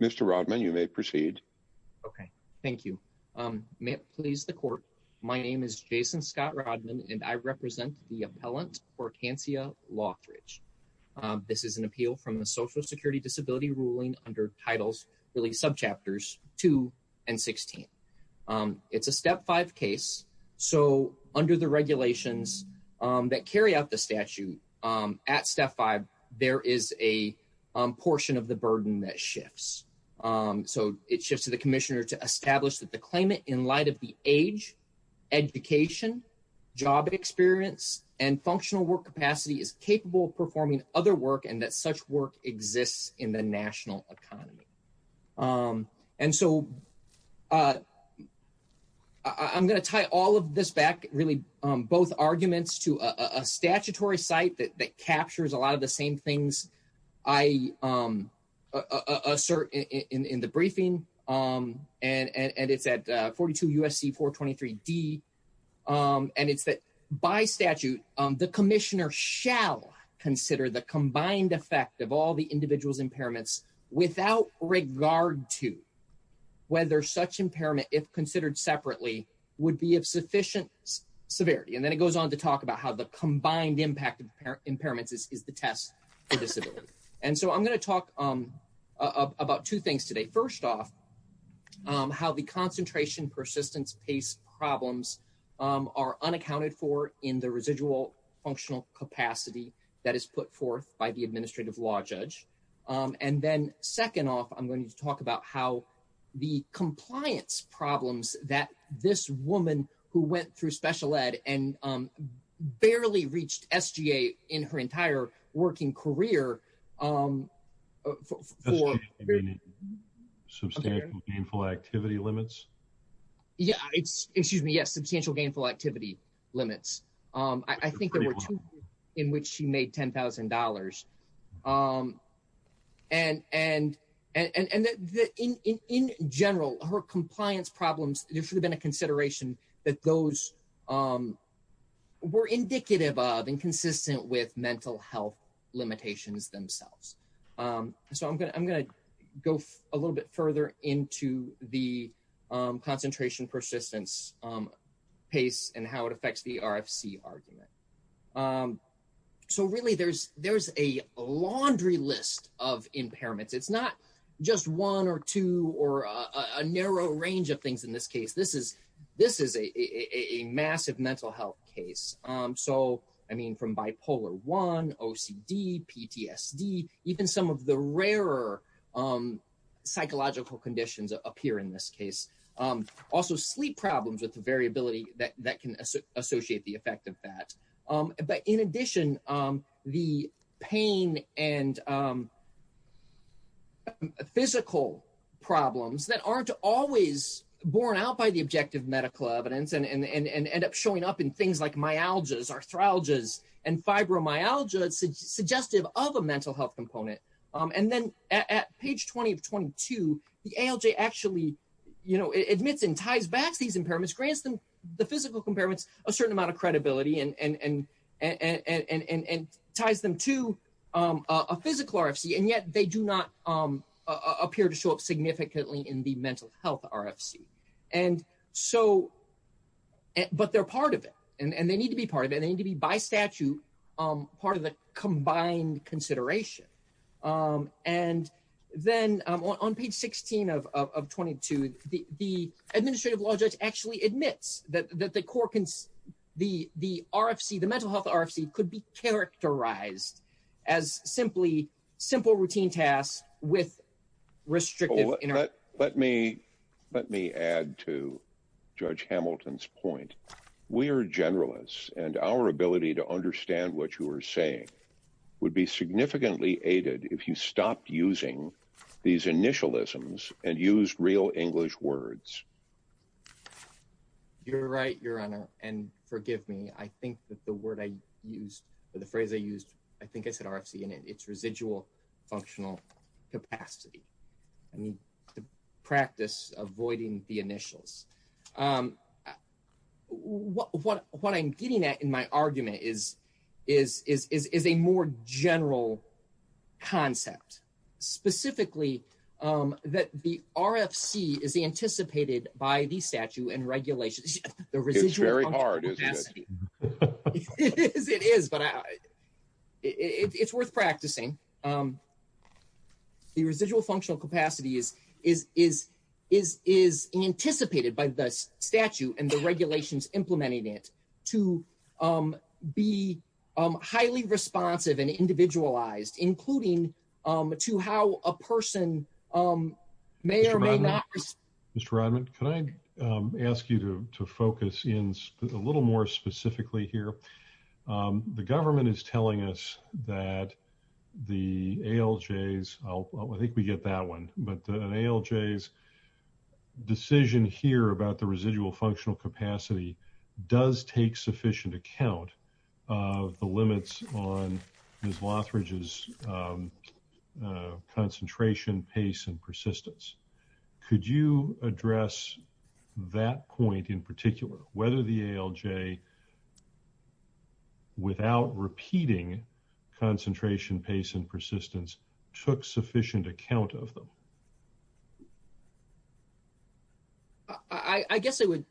Mr. Rodman may it please the court, my name is Jason Scott Rodman and I represent the Hortansia Lothridge. This is an appeal from the social security disability ruling under titles, really subchapters two and 16. It's a step five case. So under the regulations that carry out the statute, at step five, there is a portion of the burden that shifts. So it shifts to the commissioner to establish that the claimant in light of the age, education, job experience, and functional work capacity is capable of performing other work and that such work exists in the national economy. And so I'm going to tie all of this back really both arguments to a statutory site that captures a lot of the same things I assert in the briefing and it's at 42 USC 423 D. And it's that by statute, the commissioner shall consider the combined effect of all the individuals impairments without regard to whether such impairment, if considered separately, would be of sufficient severity. And then it goes on to talk about how the combined impact of impairments is the test for disability. And so I'm going to talk about two things today. First off, how the concentration persistence pace problems are unaccounted for in the residual functional capacity that is put forth by the administrative law judge. And then second off, I'm going to talk about how the compliance problems that this woman who went through special ed and barely reached SGA in her entire working career. Substantial gainful activity limits? Yeah. It's excuse me. Yes. Substantial gainful activity limits. I think there were two in which she made $10,000. And in general, her compliance problems, there should have been a consideration that those were indicative of and consistent with mental health limitations themselves. So I'm going to go a little bit further into the concentration persistence pace and how it affects the RFC argument. So really, there's a laundry list of impairments. It's not just one or two or a narrow range of things in this case. This is a massive mental health case. So I mean, from bipolar I, OCD, PTSD, even some of the rarer psychological conditions appear in this case. Also sleep problems with the variability that can associate the effect of that. But in addition, the pain and physical problems that aren't always borne out by the objective medical evidence and end up showing up in things like myalgias, arthralgias, and fibromyalgia suggestive of a mental health grants the physical impairments a certain amount of credibility and ties them to a physical RFC. And yet they do not appear to show up significantly in the mental health RFC. But they're part of it. And they need to be part of it. They need to be by statute part of the combined consideration. And then on page 16 of 22, the administrative law judge actually admits that the core, the RFC, the mental health RFC could be characterized as simply simple routine tasks with restrictive. Let me let me add to Judge Hamilton's point. We are generalists and our ability to understand what you are saying would be significantly aided if you stopped using these initialisms and use real English words. You're right, Your Honor. And forgive me. I think that the word I used or the phrase I used, I think it's an RFC in its residual functional capacity. I mean, the practice avoiding the initials. What I'm getting at in my argument is a more general concept, specifically that the RFC is anticipated by the statute and regulations. It's very hard. It is, but it's worth practicing. The residual functional capacity is is is is is anticipated by the statute and the regulations implementing it to be highly responsive and individualized, including to how a person may or may not. Mr. Rodman, can I ask you to focus in a little more specifically here? The government is telling us that the ALJs, I think we get that one, but an ALJs decision here about the residual functional capacity does take sufficient account of the and persistence. Could you address that point in particular, whether the ALJ, without repeating concentration, pace and persistence, took sufficient account of them? I guess I would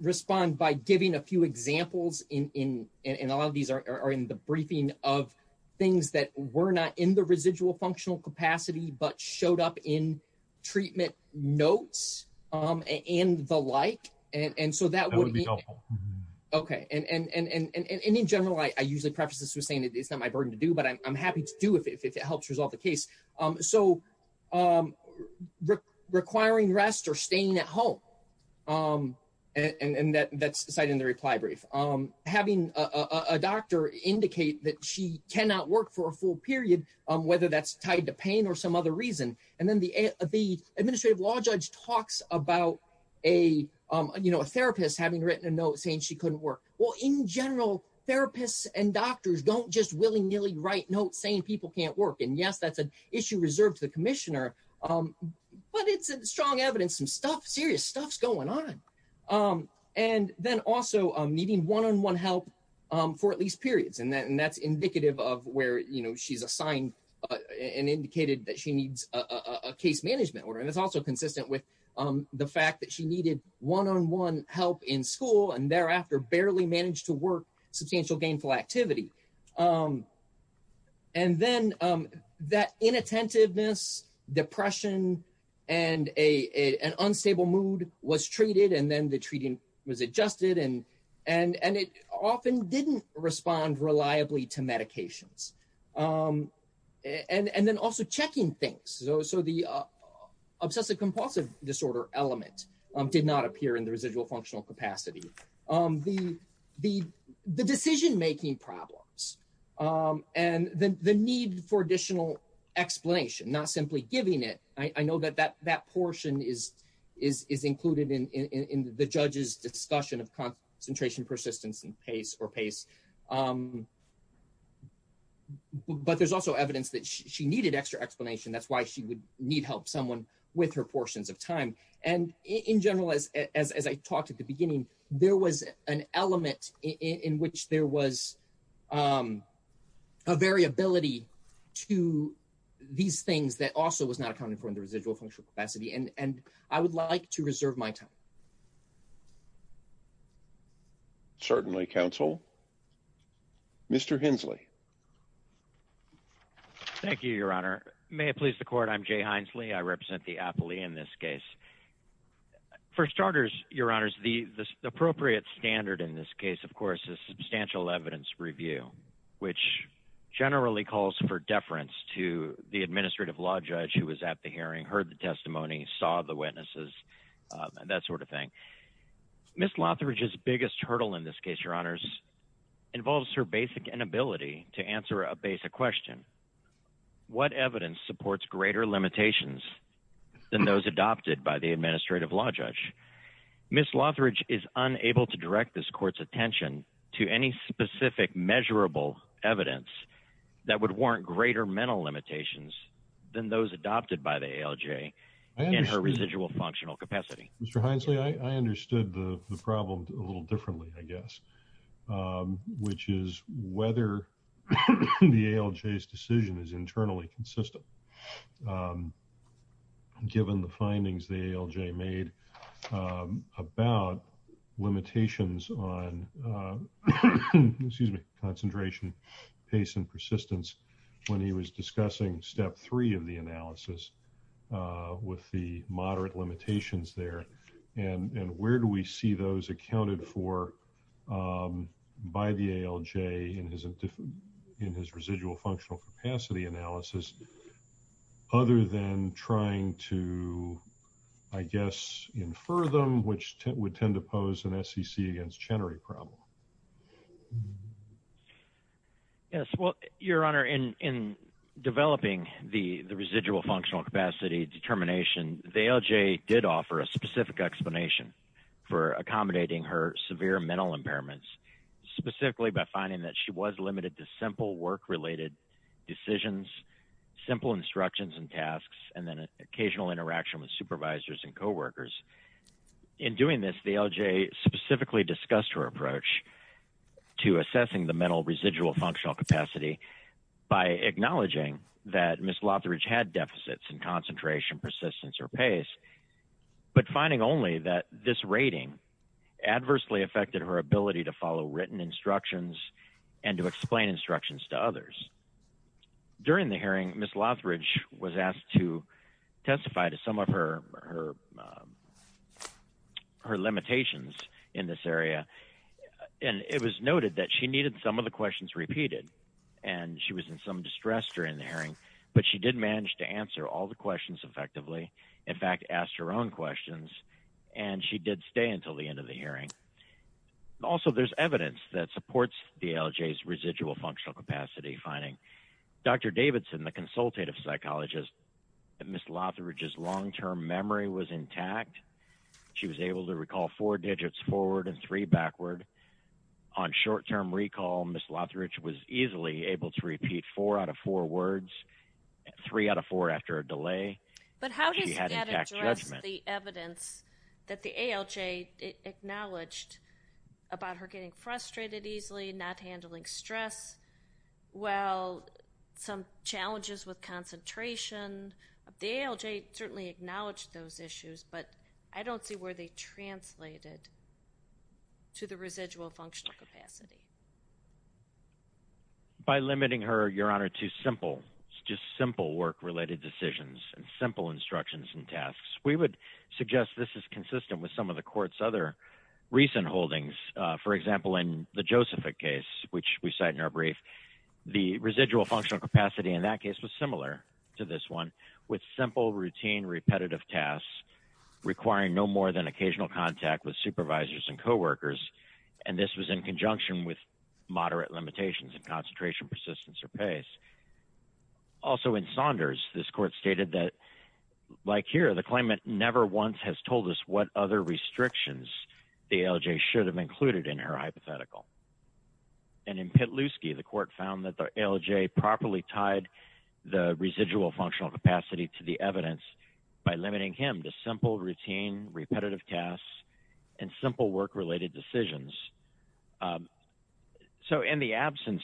respond by giving a few examples. And a lot of these are in the briefing of things that were not in the residual functional capacity, but showed up in treatment notes and the like. And so, that would be helpful. Okay. And in general, I usually preface this with saying it's not my burden to do, but I'm happy to do if it helps resolve the case. So, requiring rest or staying at home. And that's cited in the reply brief. Having a doctor indicate that she cannot work for a full period, whether that's tied to pain or some other reason. And then the administrative law judge talks about a therapist having written a note saying she couldn't work. Well, in general, therapists and doctors don't just willy-nilly write notes saying people can't work. And yes, that's an issue reserved to the commissioner, but it's strong evidence and serious stuff's going on. And then also needing one-on-one help for at least periods. And that's indicative of where she's assigned and indicated that she needs a case management order. And it's also consistent with the fact that she needed one-on-one help in school and thereafter barely managed to work substantial gainful activity. And then that inattentiveness, depression, and an unstable mood was treated. And then the treating was adjusted. And it often didn't respond reliably to medications. And then also checking things. So, the obsessive-compulsive disorder element did not appear in the residual functional capacity. The decision-making problems and the need for additional explanation, not simply giving it. I know that that portion is included in the judge's discussion of concentration, persistence, and pace or pace. But there's also evidence that she needed extra explanation. That's why she would need help someone with her portions of time. And in general, as I talked at the beginning, there was an element in which there was a variability to these things that also was not accounted for in the residual functional capacity. And I would like to Certainly, counsel. Mr. Hensley. Thank you, your honor. May it please the court. I'm Jay Hensley. I represent the appellee in this case. For starters, your honors, the appropriate standard in this case, of course, is substantial evidence review, which generally calls for deference to the administrative law judge who was at the hearing, heard the testimony, saw the witnesses, and that sort of thing. Miss Lotheridge's biggest hurdle in this case, your honors, involves her basic inability to answer a basic question. What evidence supports greater limitations than those adopted by the administrative law judge? Miss Lotheridge is unable to direct this court's attention to any specific measurable evidence that would warrant greater mental limitations than those adopted by the ALJ in her residual functional capacity. Mr. Hensley, I understood the problem a little differently, I guess, which is whether the ALJ's decision is internally consistent. Given the findings the ALJ made about limitations on, excuse me, concentration, pace, and persistence, when he was discussing step three of the analysis with the moderate limitations there, and where do we see those accounted for by the ALJ in his residual functional capacity analysis other than trying to, I guess, infer them, which would tend to pose an SEC against Chenery problem? Yes. Well, your honor, in developing the residual functional capacity determination, the ALJ did offer a specific explanation for accommodating her severe mental impairments, specifically by finding that she was limited to simple work-related decisions, simple instructions and tasks, and then occasional interaction with supervisors and coworkers. In doing this, the ALJ specifically discussed her approach to assessing the mental residual functional capacity by acknowledging that Ms. Lothridge had deficits in concentration, persistence, or pace, but finding only that this rating adversely affected her ability to follow written instructions and to explain instructions to others. During the hearing, Ms. Lothridge was asked to testify to some of her limitations in this area, and it was noted that she needed some of the questions repeated, and she was in some distress during the hearing, but she did manage to answer all the questions effectively, in fact, asked her own questions, and she did stay until the end of the hearing. Also, there's evidence that supports the ALJ's residual functional capacity finding. Dr. Davidson, the consultative psychologist, that Ms. Lothridge's long-term memory was intact. She was able to recall four digits forward and three backward. On short-term recall, Ms. Lothridge was easily able to repeat four out of four words, three out of four after a delay. But how does that address the evidence that the ALJ acknowledged about her getting frustrated easily, not handling stress, well, some challenges with concentration? The ALJ certainly acknowledged those issues, but I don't see where they translated to the residual functional capacity. By limiting her, Your Honor, to simple, just simple work-related decisions and simple instructions and tasks, we would suggest this is consistent with some of the court's other recent holdings. For example, in the Josephic case, which we cite in our brief, the residual functional capacity in that case was similar to this one, with simple, routine, repetitive tasks requiring no more than occasional contact with supervisors and coworkers, and this was in conjunction with moderate limitations in concentration, persistence, or pace. Also, in Saunders, this court stated that, like here, the claimant never once has told us what other restrictions the ALJ should have included in her hypothetical. And in Petluski, the court found that the ALJ properly tied the residual functional capacity to the evidence by limiting him to simple, routine, repetitive tasks and simple work-related decisions. So in the absence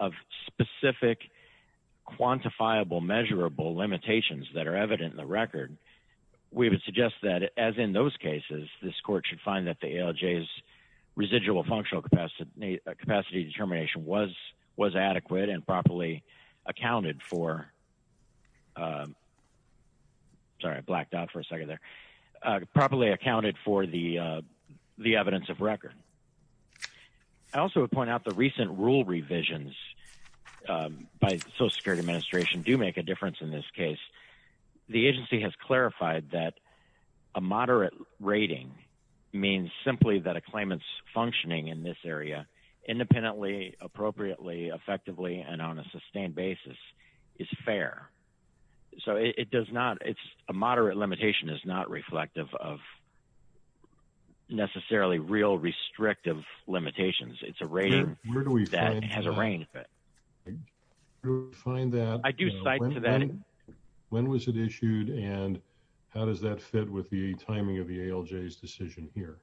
of specific, quantifiable, measurable limitations that are evident in the record, we would suggest that, as in those cases, this court should find that the ALJ's residual functional capacity determination was adequate and properly accounted for. Sorry, I blacked out for a second there. Properly accounted for the evidence of record. I also would point out the recent rule revisions by the Social Security Administration do make a that a moderate rating means simply that a claimant's functioning in this area independently, appropriately, effectively, and on a sustained basis is fair. So it does not, it's a moderate limitation is not reflective of necessarily real restrictive limitations. It's a rating that has a How does that fit with the timing of the ALJ's decision here?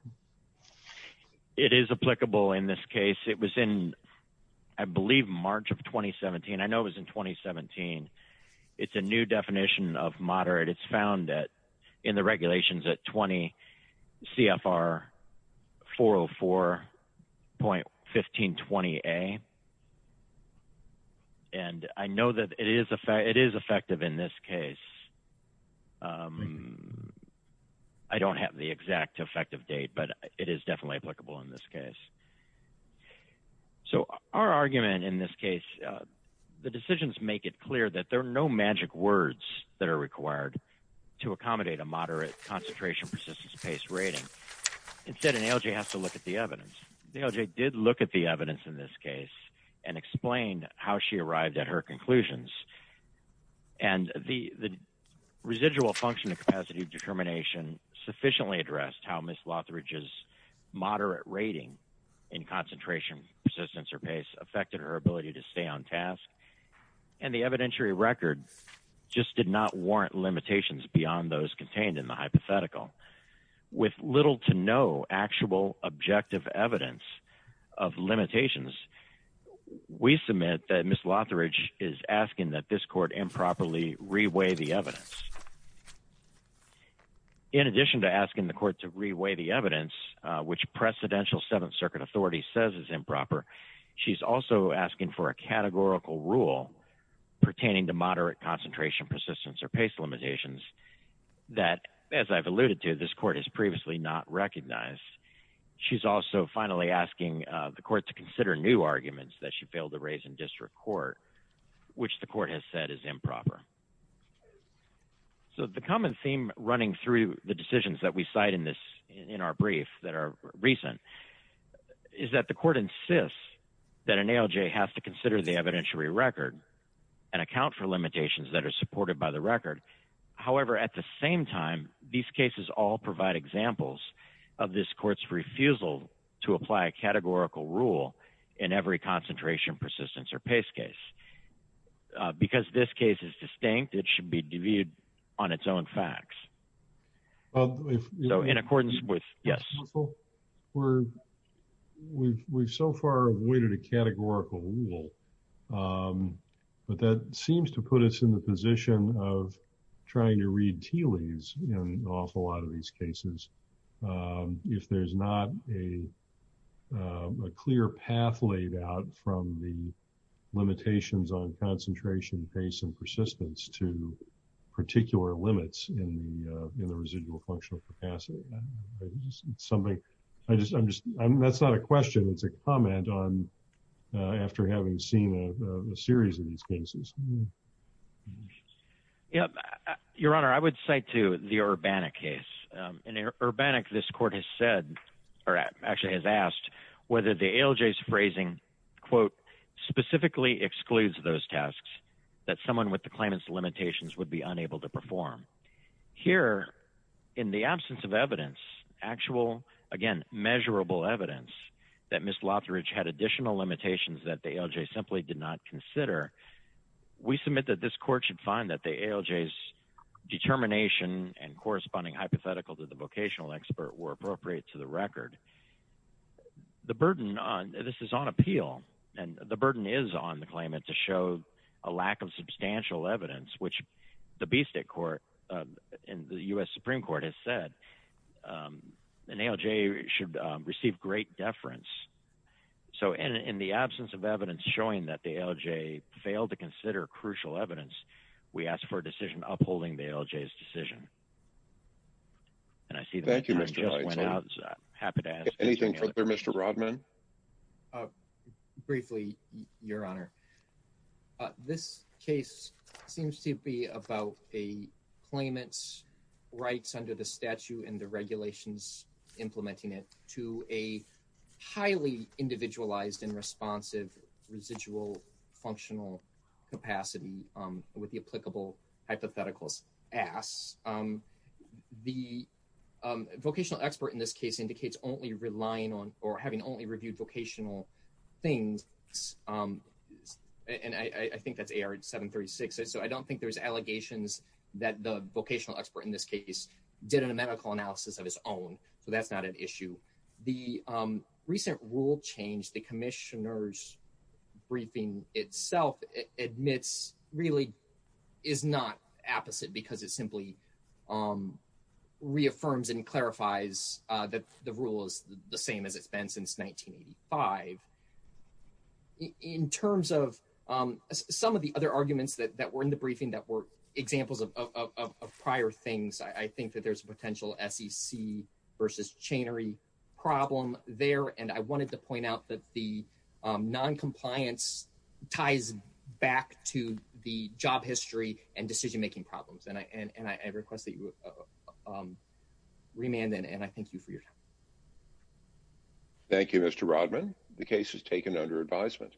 It is applicable in this case. It was in, I believe, March of 2017. I know it was in 2017. It's a new definition of moderate. It's found that in the regulations at 20 CFR 404.1520A. And I know that it is effective in this case. I don't have the exact effective date, but it is definitely applicable in this case. So our argument in this case, the decisions make it clear that there are no magic words that are required to accommodate a moderate concentration persistence based rating. Instead, an ALJ has to look at the evidence. The ALJ did look at the evidence in this case. And explain how she arrived at her conclusions. And the residual functioning capacity of determination sufficiently addressed how Ms. Lothridge's moderate rating in concentration persistence or pace affected her ability to stay on task. And the evidentiary record just did not warrant limitations beyond those contained in the hypothetical. With little to no actual objective evidence of limitations, we submit that Ms. Lothridge is asking that this court improperly reweigh the evidence. In addition to asking the court to reweigh the evidence, which precedential Seventh Circuit authority says is improper, she's also asking for a categorical rule pertaining to moderate concentration persistence or pace limitations that, as I've alluded to, this court has previously not recognized. She's also finally asking the court to consider new arguments that she failed to raise in district court, which the court has said is improper. So the common theme running through the decisions that we cite in our brief that are recent is that the court insists that an ALJ has to consider the evidentiary record and account for limitations that are supported by the record. However, at the same time, these cases all provide examples of this court's refusal to apply a categorical rule in every concentration persistence or pace case. Because this case is distinct, it should be deviewed on its own facts. So in accordance with, yes. We've so far avoided a categorical rule, but that seems to put us in the position of trying to read tea leaves in an awful lot of these cases. If there's not a clear path laid out from the limitations on concentration, pace, and persistence to particular limits in the residual functional capacity. That's not a question, it's a comment after having seen a series of these cases. Yeah. Your Honor, I would cite to the Urbana case. In Urbana, this court has said or actually has asked whether the ALJ's phrasing quote, specifically excludes those tasks that someone with the claimant's limitations would be unable to perform. Here, in the absence of evidence, actual, again, measurable evidence that Ms. Lothridge had additional limitations that the we submit that this court should find that the ALJ's determination and corresponding hypothetical to the vocational expert were appropriate to the record. The burden on, this is on appeal, and the burden is on the claimant to show a lack of substantial evidence, which the Bistec Court and the U.S. Supreme Court has said an ALJ should receive great deference. So, in the absence of evidence showing that the ALJ failed to consider crucial evidence, we ask for a decision upholding the ALJ's decision. And I see- Thank you, Mr. Leitzel. I'm happy to ask- Anything further, Mr. Rodman? Briefly, Your Honor. This case seems to be about a claimant's rights under the statute and the highly individualized and responsive residual functional capacity with the applicable hypotheticals asks. The vocational expert in this case indicates only relying on, or having only reviewed vocational things, and I think that's AR 736, so I don't think there's allegations that the vocational expert in this case did a medical analysis of his own, so that's not an issue. The recent rule change the commissioner's briefing itself admits really is not apposite because it simply reaffirms and clarifies that the rule is the same as it's been since 1985. In terms of some of the other arguments that were in the briefing that were there's a potential SEC versus chainery problem there, and I wanted to point out that the non-compliance ties back to the job history and decision-making problems, and I request that you remand and I thank you for your time. Thank you, Mr. Rodman. The case is taken under advisement.